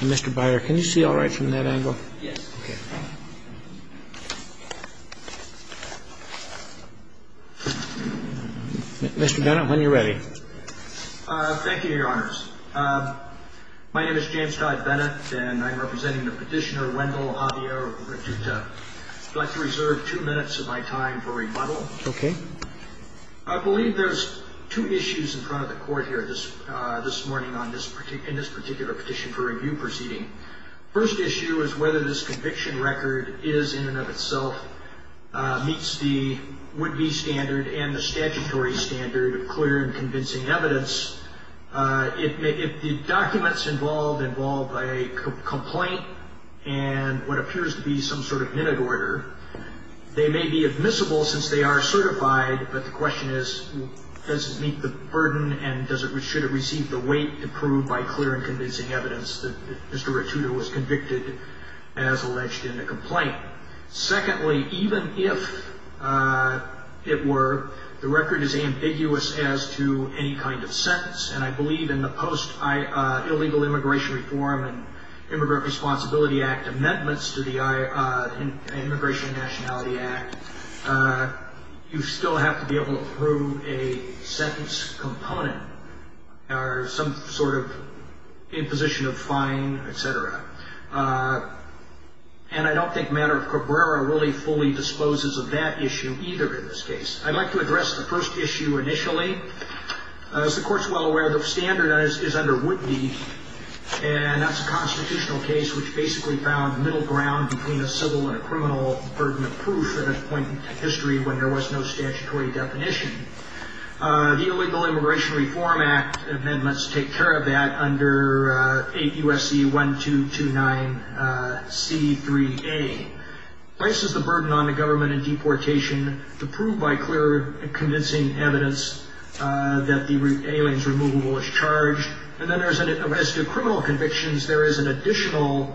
Mr. Byer, can you see alright from that angle? Yes. Okay. Mr. Bennett, when you're ready. Thank you, your honors. My name is James Todd Bennett and I'm representing the petitioner Wendell Javier-Ratuta. I'd like to reserve two minutes of my time for rebuttal. Okay. I believe there's two issues in front of the court here this morning in this particular petition for review proceeding. First issue is whether this conviction record is in and of itself meets the would-be standard and the statutory standard of clear and convincing evidence. If the documents involved involve a complaint and what appears to be some sort of minute order, they may be admissible since they are certified, but the question is does it meet the burden and should it receive the weight to prove by clear and convincing evidence that Mr. Ratuta was convicted as alleged in the complaint. Secondly, even if it were, the record is ambiguous as to any kind of sentence and I believe in the Post-Illegal Immigration Reform and Immigrant Responsibility Act amendments to the Immigration and Nationality Act, you still have to be able to prove a sentence component or some sort of imposition of fine, et cetera. And I don't think matter of Cabrera really fully disposes of that issue either in this case. I'd like to address the first issue initially. As the court's well aware, the standard is under would-be and that's a constitutional case which basically found middle ground between a civil and a criminal burden of proof at a point in history when there was no statutory definition. The Illegal Immigration Reform Act amendments take care of that under 8 U.S.C. 1229 C.3.A. Places the burden on the government in deportation to prove by clear and convincing evidence that the aliens removal was charged. And then as to criminal convictions, there is an additional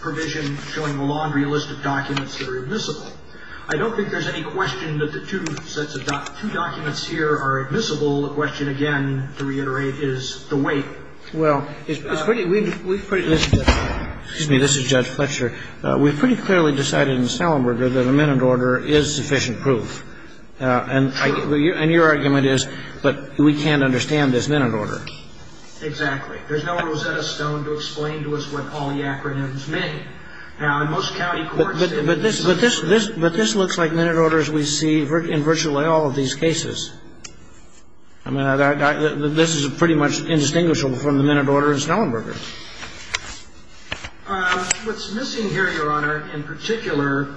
provision showing the laundry list of documents that are admissible. I don't think there's any question that the two sets of documents here are admissible. The question, again, to reiterate, is the weight. Well, it's pretty weird. Excuse me. This is Judge Fletcher. We've pretty clearly decided in Salenberger that a minute order is sufficient proof. True. And your argument is, but we can't understand this minute order. Exactly. There's no Rosetta Stone to explain to us what all the acronyms mean. Now, in most county courts they would decide. But this looks like minute orders we see in virtually all of these cases. I mean, this is pretty much indistinguishable from the minute order in Salenberger. What's missing here, Your Honor, in particular,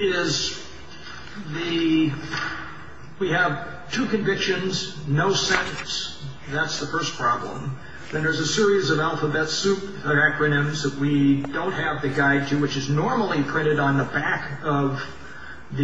is we have two convictions, no sentence. That's the first problem. Then there's a series of alphabet soup acronyms that we don't have the guide to, which is normally printed on the back of the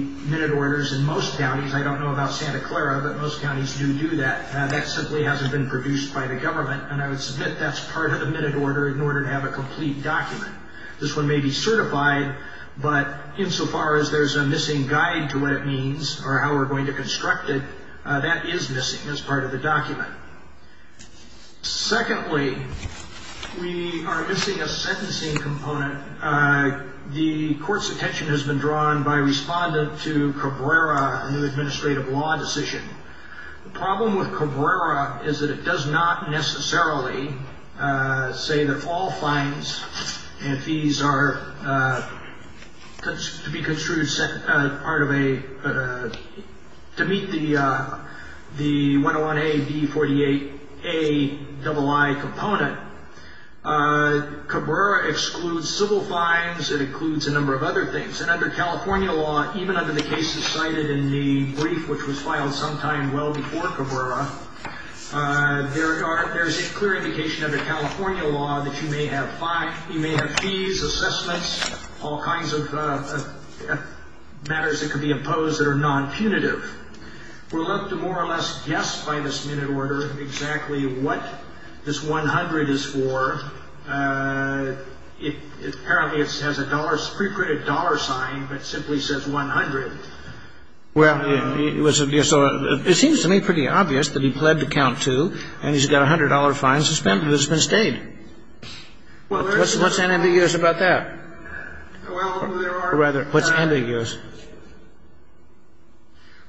minute orders in most counties. I don't know about Santa Clara, but most counties do do that. That simply hasn't been produced by the government, and I would submit that's part of the minute order in order to have a complete document. This one may be certified, but insofar as there's a missing guide to what it means or how we're going to construct it, that is missing as part of the document. Secondly, we are missing a sentencing component. The court's attention has been drawn by a respondent to Cabrera, a new administrative law decision. The problem with Cabrera is that it does not necessarily say that all fines and fees are to be construed as part of a—to meet the 101A-B48A-II component. Cabrera excludes civil fines. It includes a number of other things, and under California law, even under the cases cited in the brief which was filed sometime well before Cabrera, there's a clear indication under California law that you may have fees, assessments, all kinds of matters that could be imposed that are non-punitive. We're left to more or less guess by this minute order exactly what this 100 is for. Apparently it has a pre-printed dollar sign that simply says 100. Well, it seems to me pretty obvious that he pled to count two, and he's got a $100 fine suspended. It's been stayed. What's ambiguous about that? Well, there are— Rather, what's ambiguous?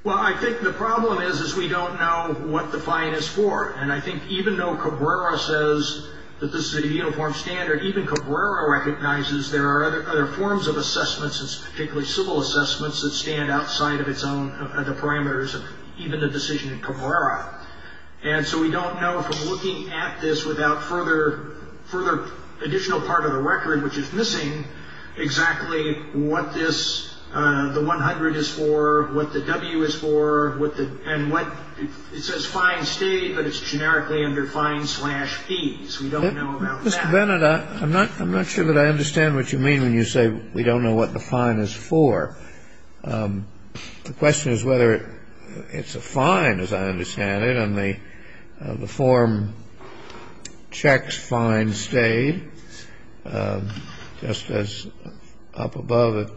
Well, I think the problem is we don't know what the fine is for, and I think even though Cabrera says that this is a uniform standard, even Cabrera recognizes there are other forms of assessments, particularly civil assessments, that stand outside of its own parameters, even the decision in Cabrera. And so we don't know from looking at this without further additional part of the record, which is missing exactly what this—the 100 is for, what the W is for, and what—it says fine stayed, but it's generically under fine slash fees. We don't know about that. Mr. Bennett, I'm not sure that I understand what you mean when you say we don't know what the fine is for. The question is whether it's a fine, as I understand it, and the form checks fine stayed. Just as up above,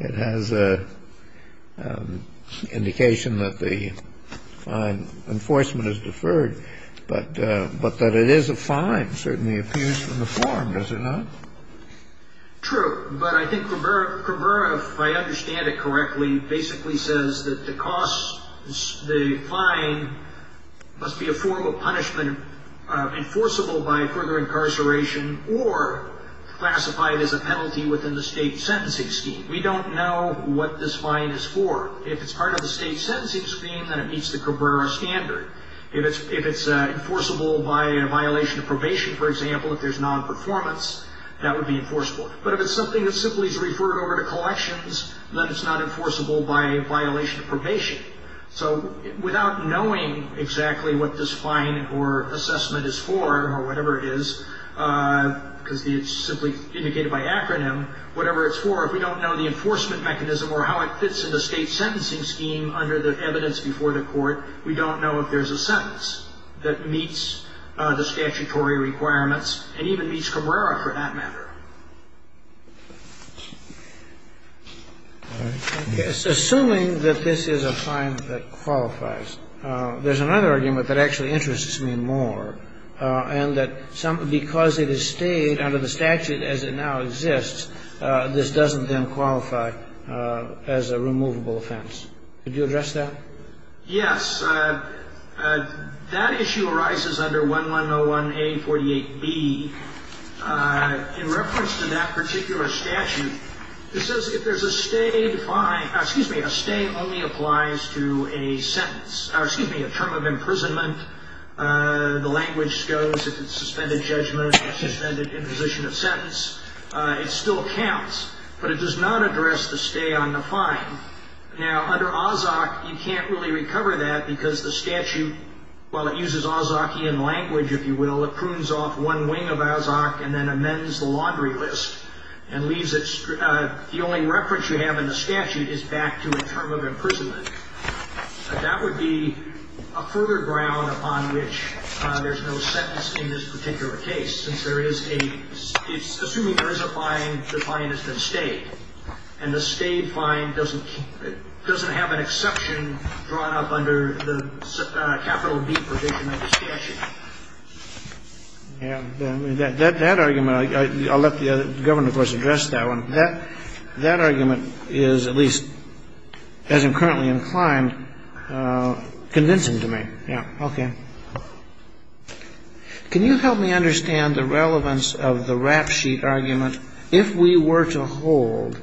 it has an indication that the fine enforcement is deferred, but that it is a fine certainly appears from the form, does it not? True, but I think Cabrera, if I understand it correctly, basically says that the cost, the fine, must be a form of punishment enforceable by further incarceration or classified as a penalty within the state sentencing scheme. We don't know what this fine is for. If it's part of the state sentencing scheme, then it meets the Cabrera standard. If it's enforceable by a violation of probation, for example, if there's nonperformance, that would be enforceable. But if it's something that simply is referred over to collections, then it's not enforceable by a violation of probation. So without knowing exactly what this fine or assessment is for or whatever it is, because it's simply indicated by acronym, whatever it's for, if we don't know the enforcement mechanism or how it fits in the state sentencing scheme under the evidence before the court, we don't know if there's a sentence that meets the statutory requirements and even meets Cabrera for that matter. All right. Okay. Assuming that this is a fine that qualifies, there's another argument that actually interests me more, and that because it has stayed under the statute as it now exists, this doesn't then qualify as a removable offense. Could you address that? Yes. That issue arises under 1101A48B. In reference to that particular statute, it says if there's a stay only applies to a sentence, excuse me, a term of imprisonment, the language goes, if it's suspended judgment or suspended imposition of sentence, it still counts. But it does not address the stay on the fine. Now, under Ozark, you can't really recover that because the statute, while it uses Ozarkian language, if you will, it prunes off one wing of Ozark and then amends the laundry list and leaves it the only reference you have in the statute is back to a term of imprisonment. That would be a further ground upon which there's no sentence in this particular case since there is a, assuming there is a fine, the fine has been stayed, and the state fine doesn't have an exception drawn up under the capital D provision of the statute. Yeah. That argument, I'll let the Governor, of course, address that one. That argument is at least, as I'm currently inclined, convincing to me. Yeah. Okay. Can you help me understand the relevance of the rap sheet argument, if we were to hold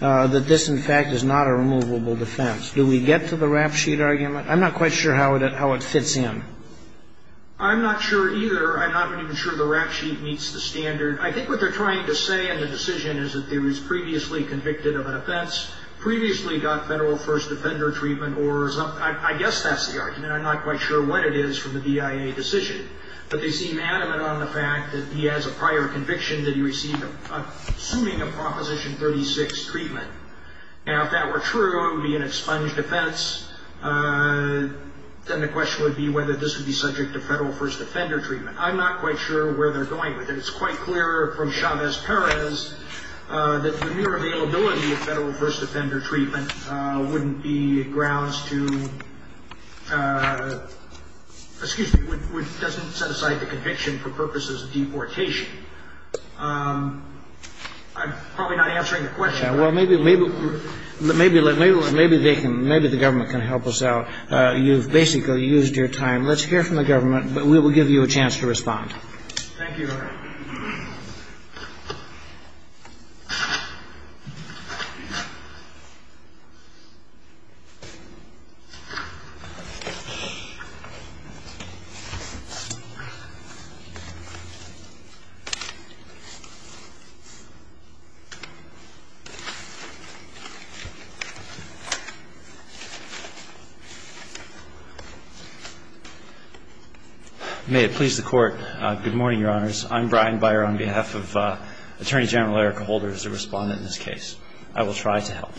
that this, in fact, is not a removable defense? Do we get to the rap sheet argument? I'm not quite sure how it fits in. I'm not sure either. I'm not even sure the rap sheet meets the standard. I think what they're trying to say in the decision is that it was previously convicted of an offense, previously got Federal first offender treatment, or I guess that's the argument. And I'm not quite sure what it is from the BIA decision. But they seem adamant on the fact that he has a prior conviction that he received assuming a Proposition 36 treatment. Now, if that were true, it would be an expunged offense. Then the question would be whether this would be subject to Federal first offender treatment. I'm not quite sure where they're going with it. It's quite clear from Chavez-Perez that the mere availability of Federal first offender treatment wouldn't be grounds to, excuse me, doesn't set aside the conviction for purposes of deportation. I'm probably not answering the question. Well, maybe they can, maybe the government can help us out. You've basically used your time. Let's hear from the government, but we will give you a chance to respond. Thank you. May it please the Court, good morning, Your Honors. I'm Brian Byer on behalf of Attorney General Erica Holder as a respondent in this case. I will try to help.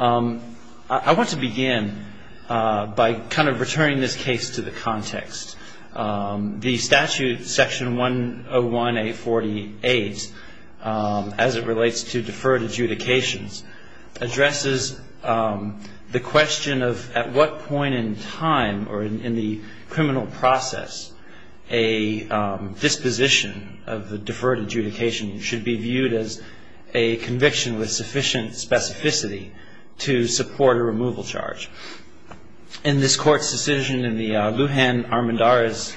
I want to begin by kind of returning this case to the context. The statute, Section 101A48, as it relates to deferred adjudications, addresses the question of at what point in time or in the criminal process a disposition of the deferred adjudication should be viewed as a conviction with sufficient specificity to support a removal charge. In this Court's decision in the Lujan Armendariz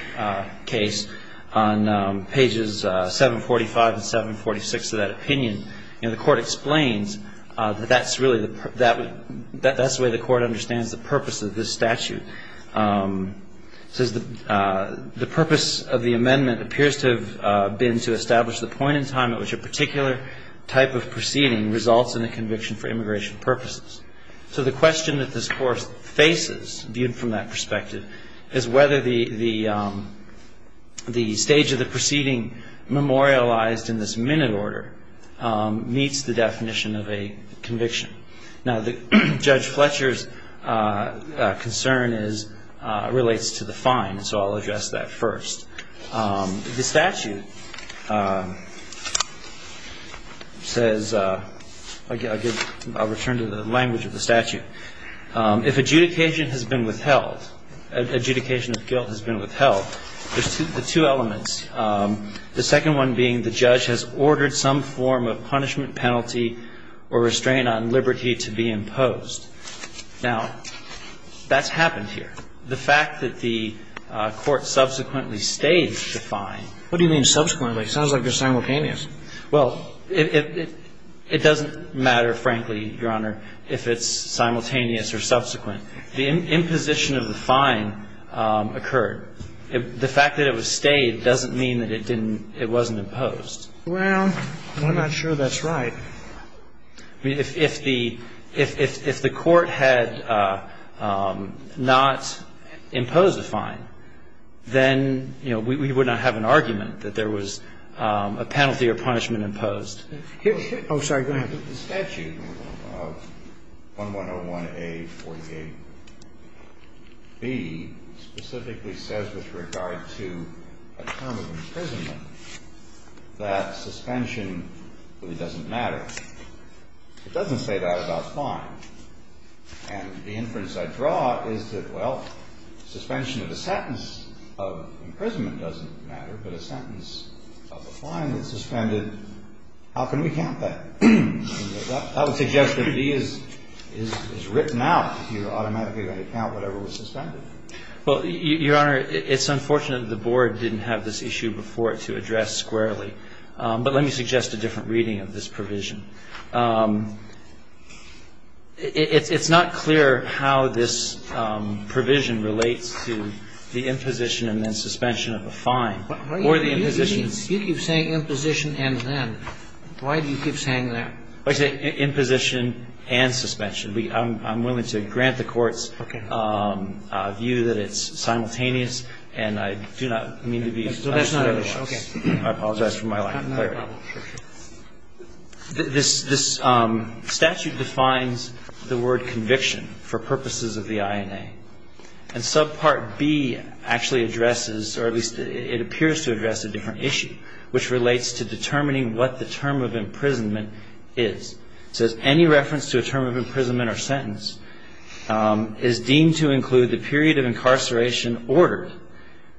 case on pages 745 and 746 of that opinion, the Court explains that that's the way the Court understands the purpose of this statute. It says the purpose of the amendment appears to have been to establish the point in time at which a particular type of proceeding results in a conviction for immigration purposes. So the question that this Court faces, viewed from that perspective, is whether the stage of the proceeding memorialized in this minute order meets the definition of a conviction. Now, Judge Fletcher's concern relates to the fine, so I'll address that first. The statute says, I'll return to the language of the statute, if adjudication has been withheld, adjudication of guilt has been withheld, there's two elements. The second one being the judge has ordered some form of punishment, penalty, or restraint on liberty to be imposed. Now, that's happened here. The fact that the Court subsequently staged the fine. What do you mean subsequently? It sounds like they're simultaneous. Well, it doesn't matter, frankly, Your Honor, if it's simultaneous or subsequent. The imposition of the fine occurred. The fact that it was staged doesn't mean that it didn't – it wasn't imposed. Well, I'm not sure that's right. If the Court had not imposed a fine, then, you know, we would not have an argument that there was a penalty or punishment imposed. Oh, sorry. Go ahead. The statute of 1101A48B specifically says with regard to a term of imprisonment that suspension really doesn't matter. It doesn't say that about fines. And the inference I draw is that, well, suspension of a sentence of imprisonment doesn't matter, but a sentence of a fine that's suspended, how can we count that? That would suggest that B is written out. You're automatically going to count whatever was suspended. Well, Your Honor, it's unfortunate the Board didn't have this issue before to address squarely. But let me suggest a different reading of this provision. It's not clear how this provision relates to the imposition and then suspension of a fine or the imposition. You keep saying imposition and then. Why do you keep saying that? Well, I say imposition and suspension. I'm willing to grant the Court's view that it's simultaneous, and I do not mean to be understated. So that's not a problem. Okay. I apologize for my lack of clarity. This statute defines the word conviction for purposes of the INA. And subpart B actually addresses, or at least it appears to address a different issue, which relates to determining what the term of imprisonment is. It says any reference to a term of imprisonment or sentence is deemed to include the period of incarceration ordered,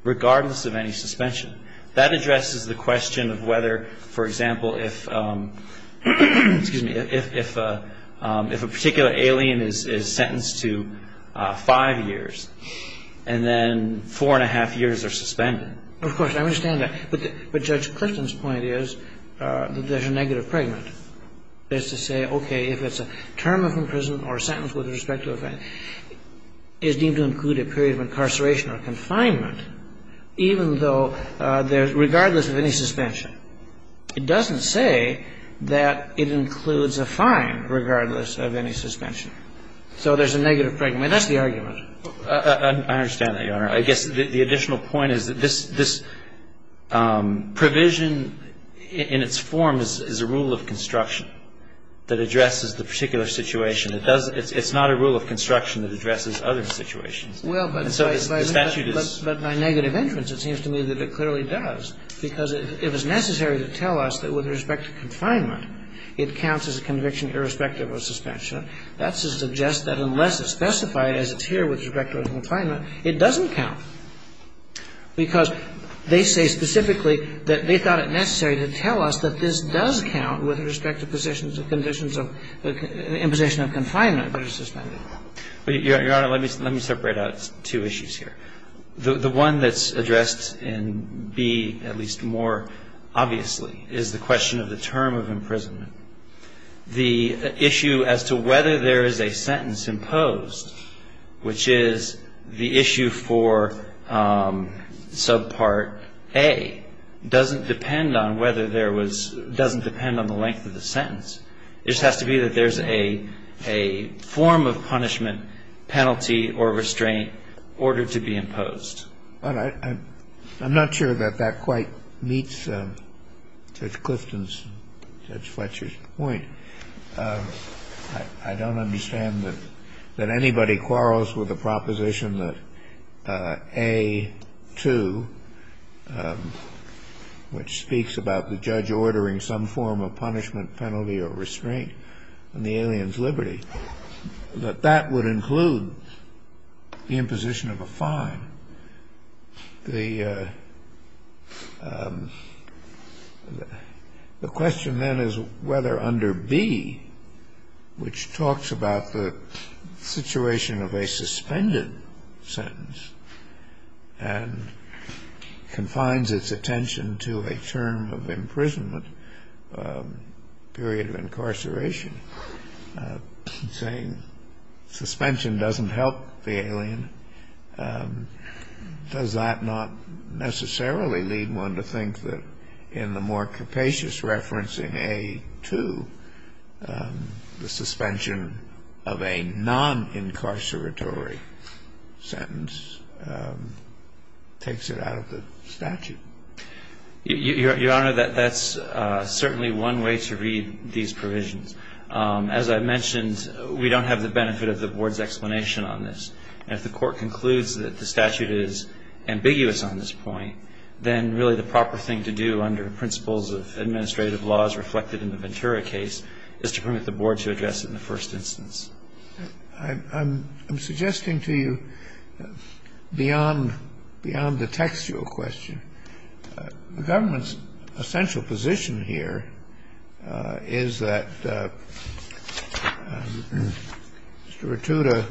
regardless of any suspension. That addresses the question of whether, for example, if, excuse me, if a particular alien is sentenced to five years and then four and a half years are suspended. Of course. I understand that. But Judge Clifton's point is that there's a negative pregnant. That's to say, okay, if it's a term of imprisonment or a sentence with respect to a family, is deemed to include a period of incarceration or confinement, even though there's regardless of any suspension. It doesn't say that it includes a fine regardless of any suspension. So there's a negative pregnant. I mean, that's the argument. I understand that, Your Honor. I guess the additional point is that this provision in its form is a rule of construction that addresses the particular situation. It's not a rule of construction that addresses other situations. And so the statute is. But by negative entrance, it seems to me that it clearly does, because it was necessary to tell us that with respect to confinement, it counts as a conviction irrespective of suspension. That suggests that unless it's specified as it's here with respect to confinement, it doesn't count. Because they say specifically that they thought it necessary to tell us that this does count with respect to positions of conditions of imposition of confinement versus suspended. Your Honor, let me separate out two issues here. The one that's addressed in B at least more obviously is the question of the term of imprisonment. The issue as to whether there is a sentence imposed, which is the issue for subpart A, doesn't depend on whether there was — doesn't depend on the length of the sentence. It just has to be that there's a form of punishment, penalty or restraint ordered to be imposed. I'm not sure that that quite meets Judge Clifton's, Judge Fletcher's point. I don't understand that anybody quarrels with the proposition that A2, which speaks about the judge ordering some form of punishment, penalty or restraint on the alien's liberty, that that would include the imposition of a fine. The question then is whether under B, which talks about the situation of a suspended sentence and confines its attention to a term of imprisonment, period of incarceration, saying suspension doesn't help the alien, does that not necessarily lead one to think that in the more capacious reference in A2, the suspension of a non-incarceratory sentence takes it out of the statute? Your Honor, that's certainly one way to read these provisions. As I mentioned, we don't have the benefit of the Board's explanation on this. And if the Court concludes that the statute is ambiguous on this point, then really the proper thing to do under principles of administrative laws reflected in the Ventura case is to permit the Board to address it in the first instance. I'm suggesting to you, beyond the textual question, the government's essential position here is that Mr. Rattuta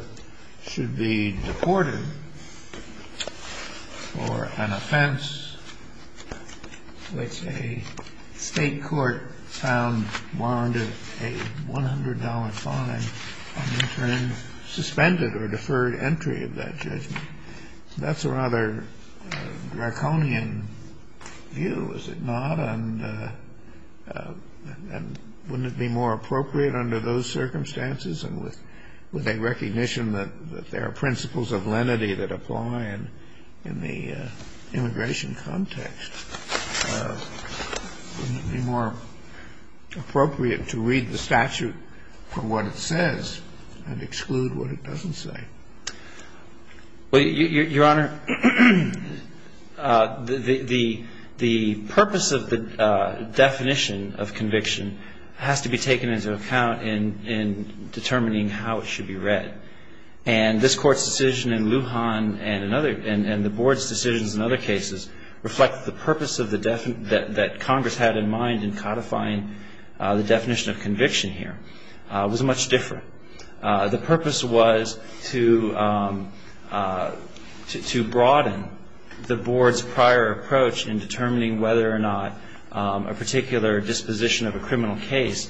should be deported for an offense which a State court found warranted a $100 fine on the term suspended or deferred entry of that judgment. So that's a rather draconian view, is it not? And wouldn't it be more appropriate under those circumstances and with a recognition that there are principles of lenity that apply in the immigration context, wouldn't it be more appropriate to read the statute for what it says and exclude what it doesn't say? Well, Your Honor, the purpose of the definition of conviction has to be taken into account in determining how it should be read. And this Court's decision in Lujan and the Board's decisions in other cases reflect the purpose that Congress had in mind in codifying the definition of conviction here. It was much different. The purpose was to broaden the Board's prior approach in determining whether or not a particular disposition of a criminal case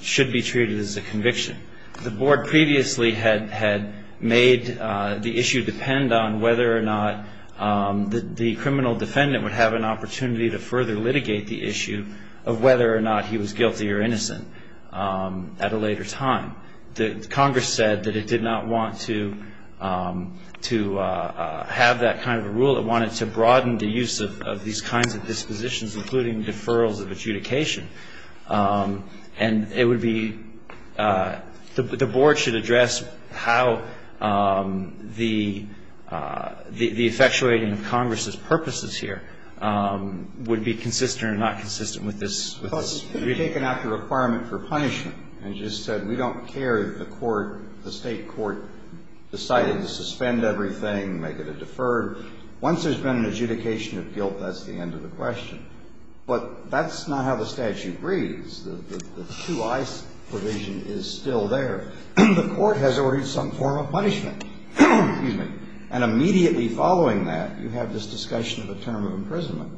should be treated as a conviction. The Board previously had made the issue depend on whether or not the criminal defendant would have an opportunity to further litigate the issue of whether or not he was guilty or innocent at a later time. Congress said that it did not want to have that kind of a rule. It wanted to broaden the use of these kinds of dispositions, including deferrals of adjudication. And it would be the Board should address how the effectuating of Congress's purposes here would be consistent or not consistent with this reading. Well, it's taken out the requirement for punishment and just said we don't care if the Court, the State Court decided to suspend everything, make it a deferred. Once there's been an adjudication of guilt, that's the end of the question. But that's not how the statute reads. The two-eyes provision is still there. The Court has ordered some form of punishment. And immediately following that, you have this discussion of a term of imprisonment.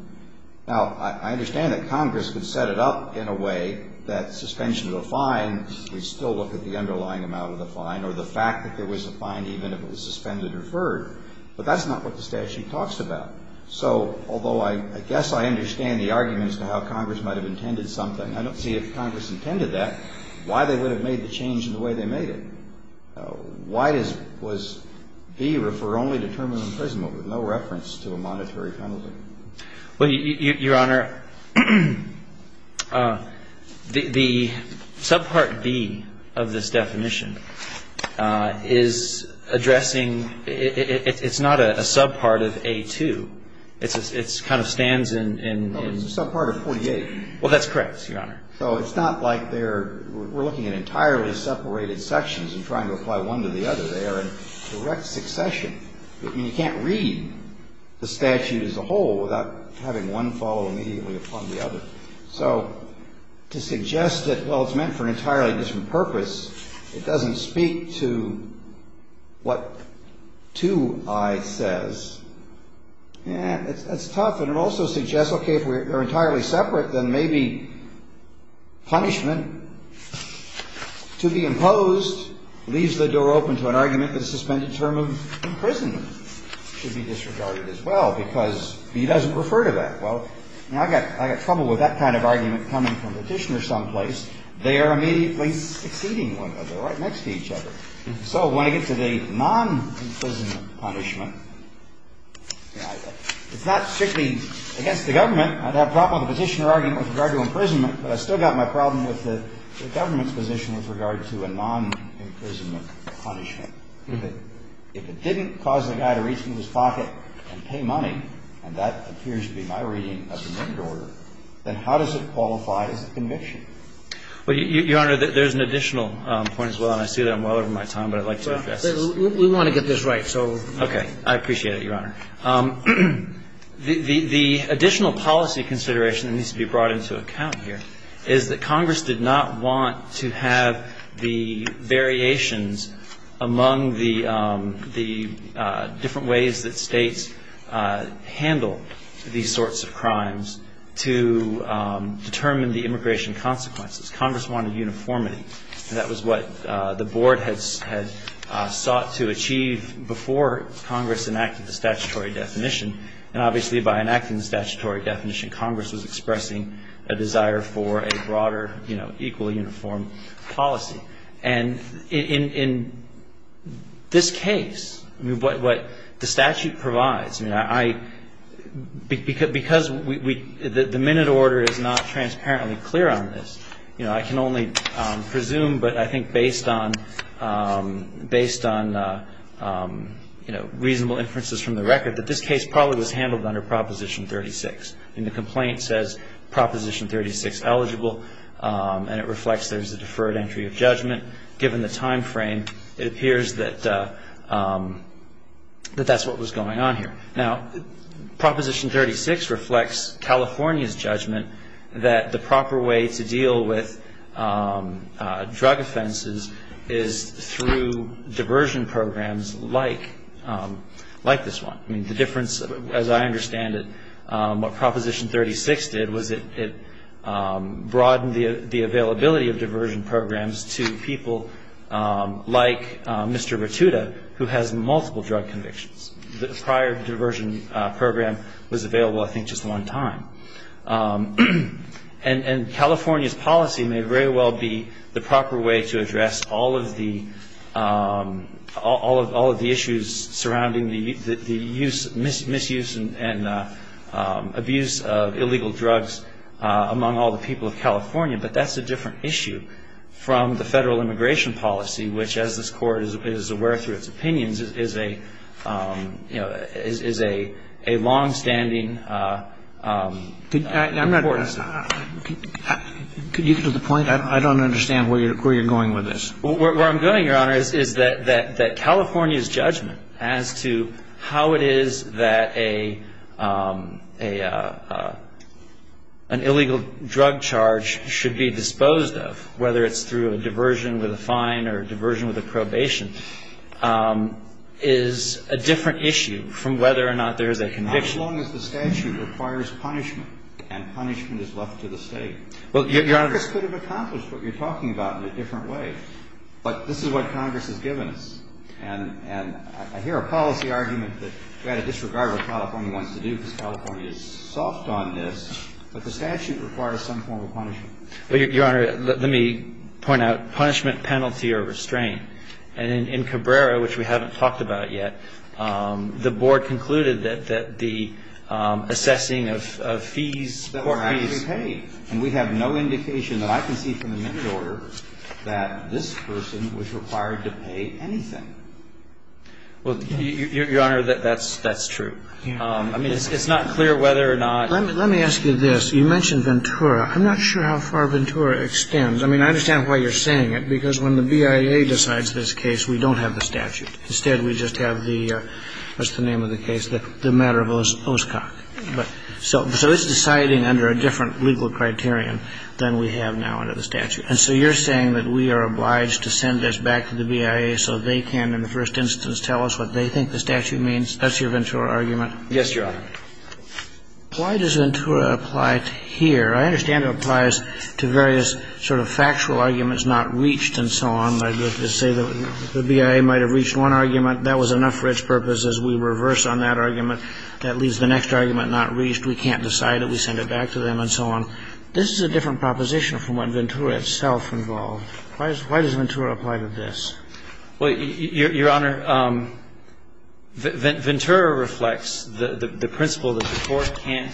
Now, I understand that Congress could set it up in a way that suspension of a fine, we still look at the underlying amount of the fine, or the fact that there was a fine even if it was suspended or deferred. But that's not what the statute talks about. So although I guess I understand the argument as to how Congress might have intended something, I don't see if Congress intended that, why they would have made the change in the way they made it. Why was B referred only to term of imprisonment with no reference to a monetary penalty? Well, Your Honor, the subpart B of this definition is addressing, it's not a subpart of A2. It's kind of stands in. Well, it's a subpart of 48. Well, that's correct, Your Honor. So it's not like they're, we're looking at entirely separated sections and trying to apply one to the other. They are in direct succession. I mean, you can't read the statute as a whole without having one fall immediately upon the other. So to suggest that, well, it's meant for an entirely different purpose, it doesn't speak to what 2I says. Yeah, that's tough. And it also suggests, okay, if we're entirely separate, then maybe punishment to be imposed leaves the door open to an argument that suspended term of imprisonment should be disregarded as well because B doesn't refer to that. Well, now I've got trouble with that kind of argument coming from the petitioner someplace. They are immediately succeeding one another, right next to each other. So when I get to the non-imprisonment punishment, it's not strictly against the government. I'd have trouble with the petitioner argument with regard to imprisonment, but I've still got my problem with the government's position with regard to a non-imprisonment punishment. If it didn't cause the guy to reach into his pocket and pay money, and that appears to be my reading of the amendment order, then how does it qualify as a conviction? Well, Your Honor, there's an additional point as well, and I see that I'm well over my time, but I'd like to address this. We want to get this right, so. Okay. I appreciate it, Your Honor. The additional policy consideration that needs to be brought into account here is that Congress did not want to have the variations among the different ways that States handle these sorts of crimes to determine the immigration consequences. Congress wanted uniformity, and that was what the Board had sought to achieve before Congress enacted the statutory definition. And obviously, by enacting the statutory definition, Congress was expressing a desire for a broader, you know, equally uniform policy. And in this case, I mean, what the statute provides, I mean, because the minute order is not transparently clear on this, you know, I can only presume, but I think based on reasonable inferences from the record, that this case probably was handled under Proposition 36. I mean, the complaint says Proposition 36 eligible, and it reflects there's a deferred entry of judgment given the timeframe. It appears that that's what was going on here. Now, Proposition 36 reflects California's judgment that the proper way to deal with drug offenses is through diversion programs like this one. I mean, the difference, as I understand it, what Proposition 36 did was it broadened the case to people like Mr. Rotuda, who has multiple drug convictions. The prior diversion program was available, I think, just one time. And California's policy may very well be the proper way to address all of the issues surrounding the misuse and abuse of illegal drugs among all the people of California, but that's a different issue than the federal immigration policy, which, as this Court is aware through its opinions, is a, you know, is a longstanding importance. Could you get to the point? I don't understand where you're going with this. Where I'm going, Your Honor, is that California's judgment as to how it is that an illegal drug charge should be disposed of, whether it's through a diversion with a fine or a diversion with a probation, is a different issue from whether or not there is a conviction. As long as the statute requires punishment and punishment is left to the State. Well, Your Honor. Congress could have accomplished what you're talking about in a different way. But this is what Congress has given us. And I hear a policy argument that you've got to disregard what California wants to do because the statute requires some form of punishment. Well, Your Honor, let me point out punishment, penalty, or restraint. And in Cabrera, which we haven't talked about yet, the Board concluded that the assessing of fees, court fees. That were actually paid. And we have no indication that I can see from the minute order that this person was required to pay anything. Well, Your Honor, that's true. I mean, it's not clear whether or not. Let me ask you this. You mentioned Ventura. I'm not sure how far Ventura extends. I mean, I understand why you're saying it. Because when the BIA decides this case, we don't have the statute. Instead, we just have the what's-the-name-of-the-case, the matter of Oscok. So it's deciding under a different legal criterion than we have now under the statute. And so you're saying that we are obliged to send this back to the BIA so they can, in the first instance, tell us what they think the statute means? That's your Ventura argument? Yes, Your Honor. Why does Ventura apply here? I understand it applies to various sort of factual arguments not reached and so on. Let's say the BIA might have reached one argument. That was enough for its purpose as we reverse on that argument. That leaves the next argument not reached. We can't decide it. We send it back to them and so on. This is a different proposition from what Ventura itself involved. Why does Ventura apply to this? Well, Your Honor, Ventura reflects the principle that the Court can't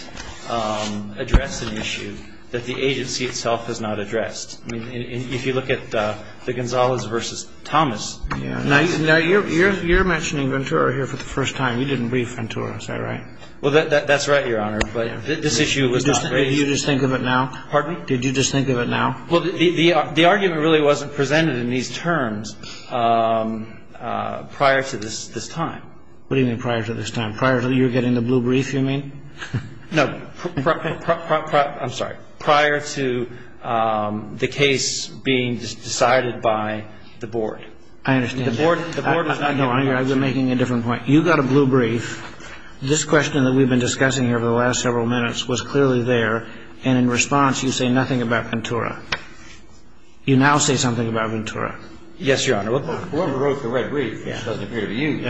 address an issue that the agency itself has not addressed. I mean, if you look at the Gonzales v. Thomas. Now, you're mentioning Ventura here for the first time. You didn't read Ventura. Is that right? Well, that's right, Your Honor. But this issue was not raised. Did you just think of it now? Pardon me? Did you just think of it now? Well, the argument really wasn't presented in these terms prior to this time. What do you mean prior to this time? Prior to you getting the blue brief, you mean? No. I'm sorry. Prior to the case being decided by the Board. I understand that. The Board does not get blue briefs. No, I've been making a different point. You got a blue brief. This question that we've been discussing here over the last several minutes was clearly there. And in response, you say nothing about Ventura. You now say something about Ventura. Yes, Your Honor. Whoever wrote the red brief doesn't agree with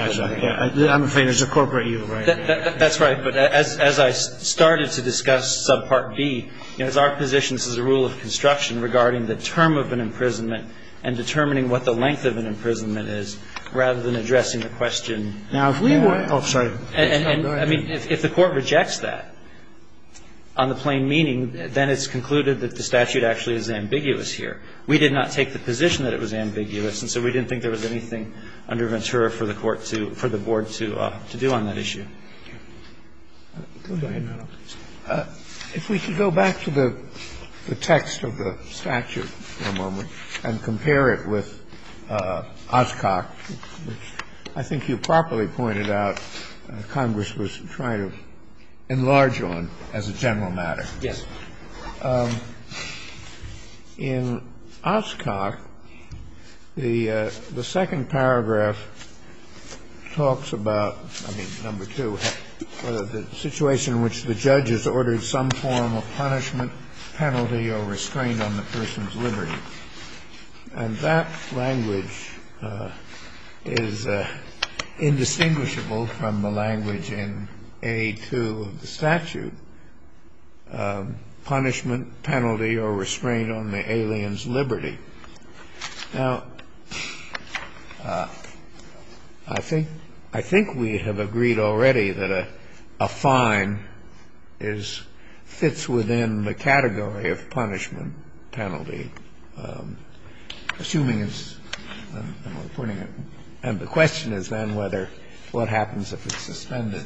you. I'm afraid it's a corporate evil, right? That's right. But as I started to discuss Subpart B, it's our position, this is a rule of construction regarding the term of an imprisonment and determining what the length of an imprisonment is rather than addressing the question. Now, if we were to – oh, sorry. Go ahead. I mean, if the Court rejects that on the plain meaning, then it's concluded that the statute actually is ambiguous here. We did not take the position that it was ambiguous, and so we didn't think there was anything under Ventura for the Court to – for the Board to do on that issue. Go ahead, Your Honor. If we could go back to the text of the statute for a moment and compare it with Oscok, which I think you properly pointed out Congress was trying to enlarge on as a general matter. Yes. In Oscok, the second paragraph talks about, I mean, number two, the situation in which the judge has ordered some form of punishment, penalty or restraint on the person's liberty. And that language is indistinguishable from the language in A2 of the statute, punishment, penalty or restraint on the alien's liberty. Now, I think we have agreed already that a fine is – fits within the category of punishment, penalty, assuming it's – and the question is then whether – what happens if it's suspended.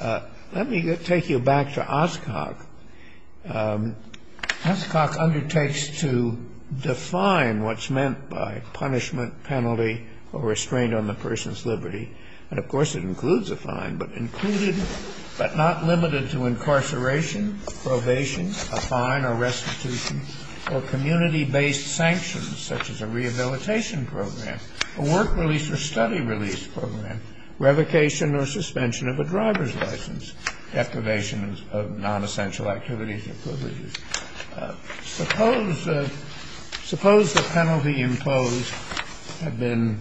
Let me take you back to Oscok. Oscok undertakes to define what's meant by punishment, penalty or restraint on the person's liberty. And, of course, it includes a fine, but included – but not limited to incarceration, probation, a fine or restitution, or community-based sanctions such as a rehabilitation program, a work release or study release program, revocation or suspension of a driver's license, deprivation of nonessential activities or privileges. Suppose the penalty imposed had been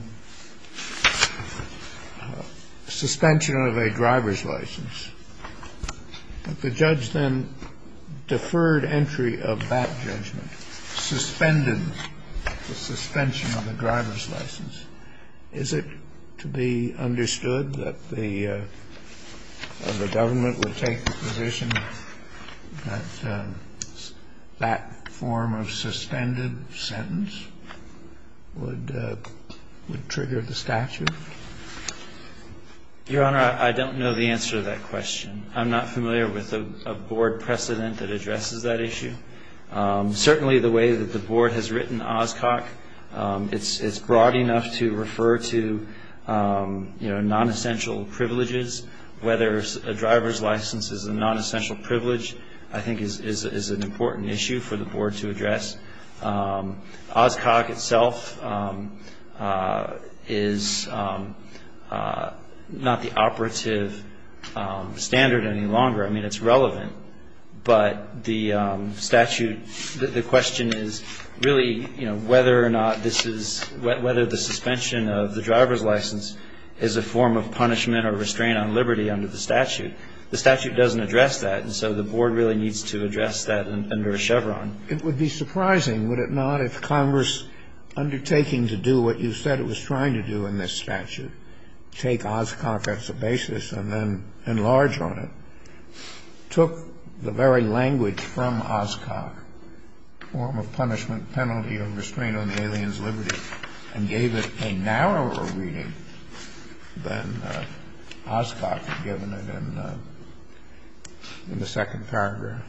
suspension of a driver's license. If the judge then deferred entry of that judgment, suspended the suspension of a driver's license, is it to be understood that the government would take the position that that form of suspended sentence would trigger the statute? Your Honor, I don't know the answer to that question. I'm not familiar with a board precedent that addresses that issue. Certainly the way that the board has written Oscok, it's broad enough to refer to, you know, nonessential privileges, whether a driver's license is a nonessential privilege, I think is an important issue for the board to address. Oscok itself is not the operative standard any longer. I mean, it's relevant. But the statute – the question is really, you know, whether or not this is – whether the suspension of the driver's license is a form of punishment or restraint on liberty under the statute. The statute doesn't address that, and so the board really needs to address that under a Chevron. It would be surprising, would it not, if Congress, undertaking to do what you said it was trying to do in this statute, take Oscok as the basis and then enlarge on it, took the very language from Oscok, form of punishment, penalty, or restraint on the alien's liberty, and gave it a narrower reading than Oscok had given it in the second paragraph.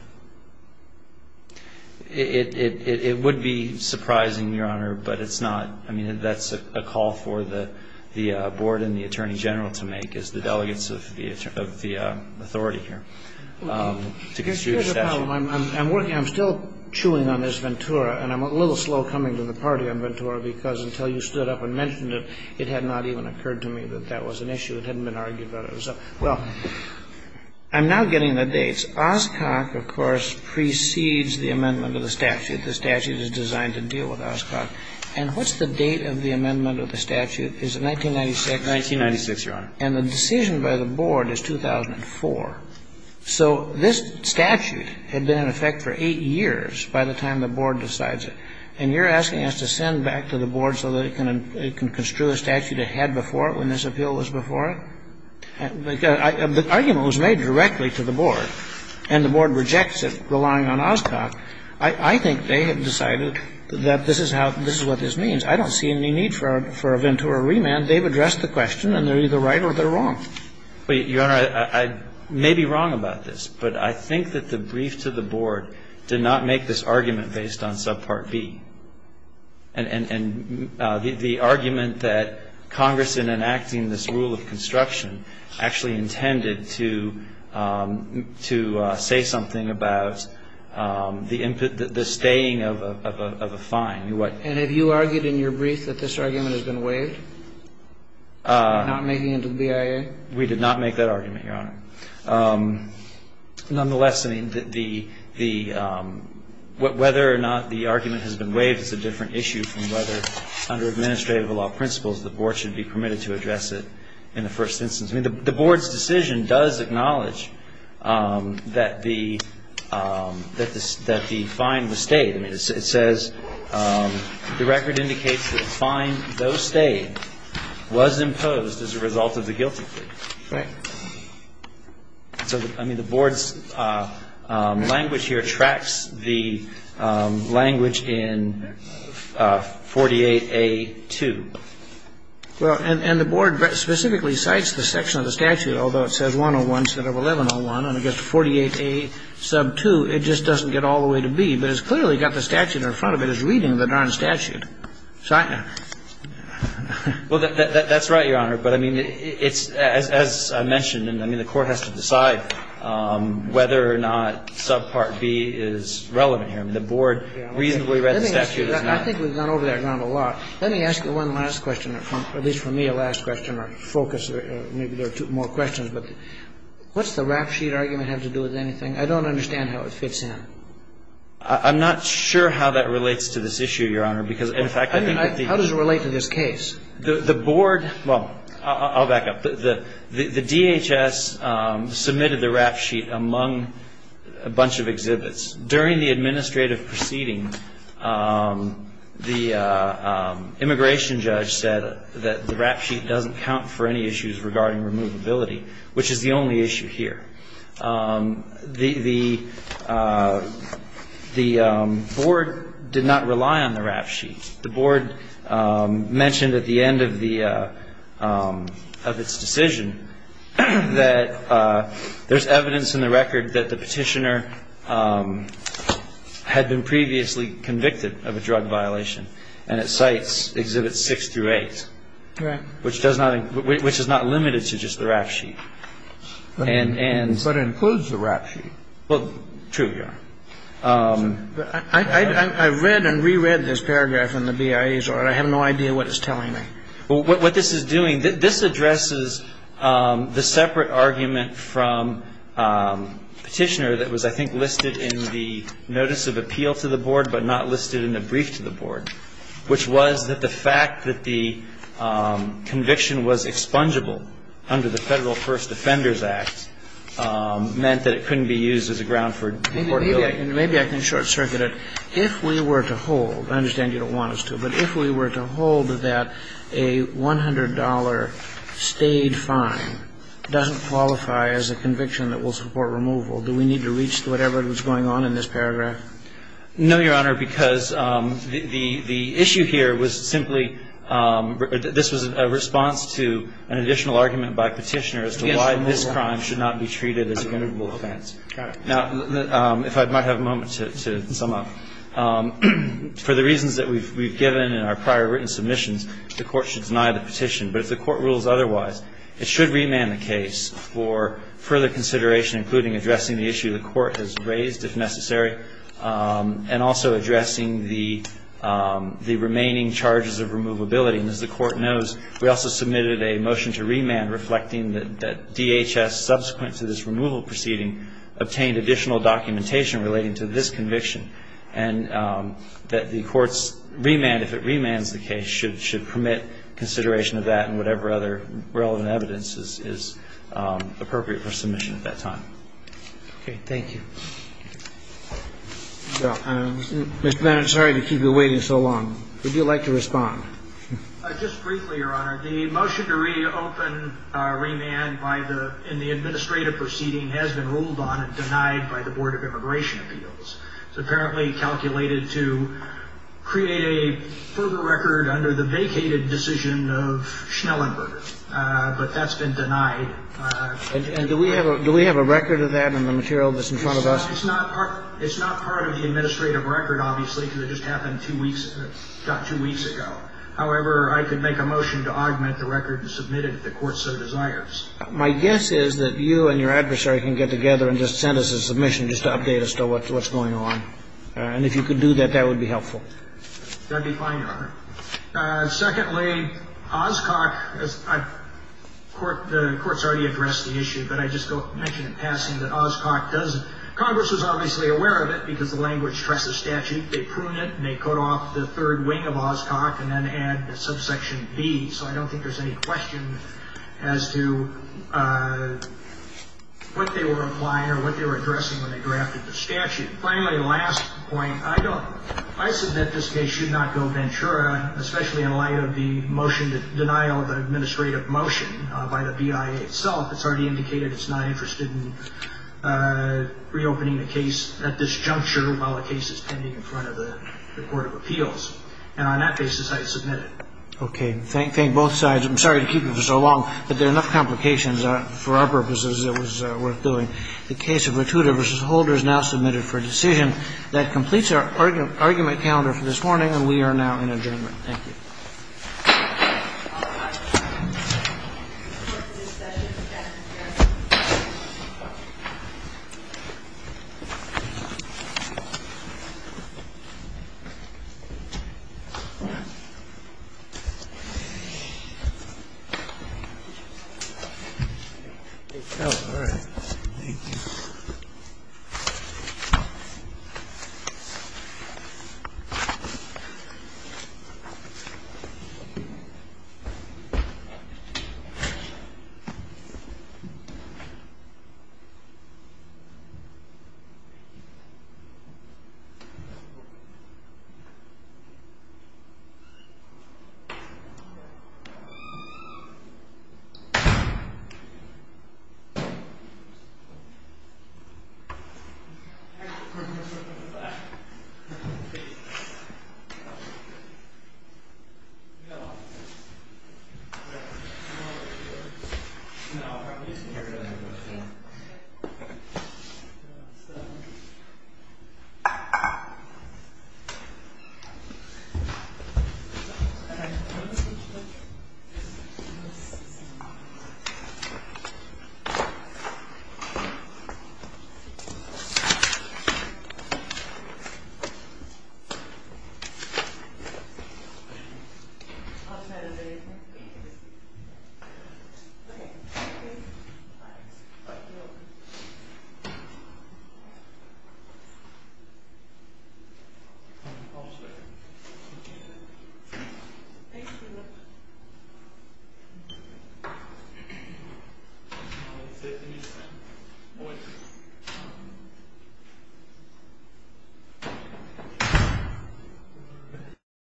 It would be surprising, Your Honor, but it's not – I mean, that's a call for the board and the Attorney General to make, as the delegates of the authority here, to construe the statute. Here's the problem. I'm working – I'm still chewing on this Ventura, and I'm a little slow coming to the party on Ventura, because until you stood up and mentioned it, it had not even occurred to me that that was an issue. It hadn't been argued about it. So, well, I'm now getting the dates. Oscok, of course, precedes the amendment of the statute. The statute is designed to deal with Oscok. And what's the date of the amendment of the statute? Is it 1996? 1996, Your Honor. And the decision by the board is 2004. So this statute had been in effect for 8 years by the time the board decides it. And you're asking us to send back to the board so that it can construe a statute it had before it when this appeal was before it? The argument was made directly to the board, and the board rejects it, relying on Oscok. I think they have decided that this is how – this is what this means. I don't see any need for a Ventura remand. They've addressed the question, and they're either right or they're wrong. But, Your Honor, I may be wrong about this, but I think that the brief to the board did not make this argument based on subpart B. And the argument that Congress, in enacting this rule of construction, actually intended to say something about the staying of a fine. And have you argued in your brief that this argument has been waived, not making it to the BIA? We did not make that argument, Your Honor. Nonetheless, I mean, whether or not the argument has been waived is a different issue from whether under administrative law principles the board should be permitted to address it in the first instance. I mean, the board's decision does acknowledge that the – that the fine was stayed. I mean, it says – the record indicates that the fine, though stayed, was imposed as a result of the guilty plea. Right. So, I mean, the board's language here tracks the language in 48A2. Well, and the board specifically cites the section of the statute, although it says 101 instead of 1101. And I guess 48A sub 2, it just doesn't get all the way to B. But it's clearly got the statute in front of it. It's reading the darn statute. Well, that's right, Your Honor. But, I mean, it's – as I mentioned, I mean, the court has to decide whether or not sub part B is relevant here. I mean, the board reasonably read the statute. Let me ask you that. I think we've gone over that ground a lot. Let me ask you one last question, at least for me a last question, or focus, or maybe there are two more questions. But what's the rap sheet argument have to do with anything? I don't understand how it fits in. I'm not sure how that relates to this issue, Your Honor. How does it relate to this case? The board – well, I'll back up. The DHS submitted the rap sheet among a bunch of exhibits. During the administrative proceeding, the immigration judge said that the rap sheet doesn't count for any issues regarding removability, which is the only issue here. The board did not rely on the rap sheet. The board mentioned at the end of the – of its decision that there's evidence in the record that the petitioner had been previously convicted of a drug violation. And its sites exhibit six through eight. Correct. Which does not – which is not limited to just the rap sheet. But it includes the rap sheet. Well, true, Your Honor. I read and reread this paragraph in the BIA's order. I have no idea what it's telling me. What this is doing – this addresses the separate argument from Petitioner that was, I think, listed in the notice of appeal to the board, but not listed in the brief to the board, which was that the fact that the conviction was expungeable under the Federal First Defenders Act meant that it couldn't be used as a ground for deportability. Maybe I can short-circuit it. If we were to hold – I understand you don't want us to, but if we were to hold that a $100 staid fine doesn't qualify as a conviction that will support removal, do we need to reach whatever was going on in this paragraph? No, Your Honor, because the issue here was simply – The argument by Petitioner as to why this crime should not be treated as a removable offense. Now, if I might have a moment to sum up. For the reasons that we've given in our prior written submissions, the Court should deny the petition. But if the Court rules otherwise, it should remand the case for further consideration, including addressing the issue the Court has raised, if necessary, and also addressing the remaining charges of removability. And as the Court knows, we also submitted a motion to remand reflecting that DHS, subsequent to this removal proceeding, obtained additional documentation relating to this conviction and that the Court's remand, if it remands the case, should permit consideration of that and whatever other relevant evidence is appropriate for submission at that time. Okay. Thank you. Mr. McMahon, I'm sorry to keep you waiting so long. Would you like to respond? Just briefly, Your Honor. The motion to reopen – remand in the administrative proceeding has been ruled on and denied by the Board of Immigration Appeals. It's apparently calculated to create a further record under the vacated decision of Schnellenberg. But that's been denied. And do we have a record of that in the material that's in front of us? It's not part of the administrative record, obviously, because it just happened two weeks ago. However, I could make a motion to augment the record to submit it if the Court so desires. My guess is that you and your adversary can get together and just send us a submission just to update us on what's going on. And if you could do that, that would be helpful. That would be fine, Your Honor. Secondly, Oscock – the Court's already addressed the issue, but I just mention in passing that Oscock does – Congress was obviously aware of it because the language stresses statute. They prune it and they cut off the third wing of Oscock and then add the subsection B. So I don't think there's any question as to what they were applying or what they were addressing when they drafted the statute. Finally, last point. I said that this case should not go ventura, especially in light of the motion to deny the administrative motion by the BIA itself. It's already indicated it's not interested in reopening the case at this juncture while the case is pending in front of the Court of Appeals. And on that basis, I submit it. Okay. Thank both sides. I'm sorry to keep you for so long, but there are enough complications. For our purposes, it was worth doing. The case of Matuda v. Holder is now submitted for decision. That completes our argument calendar for this morning, and we are now in adjournment. Thank you. Thank you. Thank you. Thank you. Thank you. lie you me me me me me me me me me me my fan my fan my fan my fan fan fan fan fan fan fan fan fan fan fan fan fan fan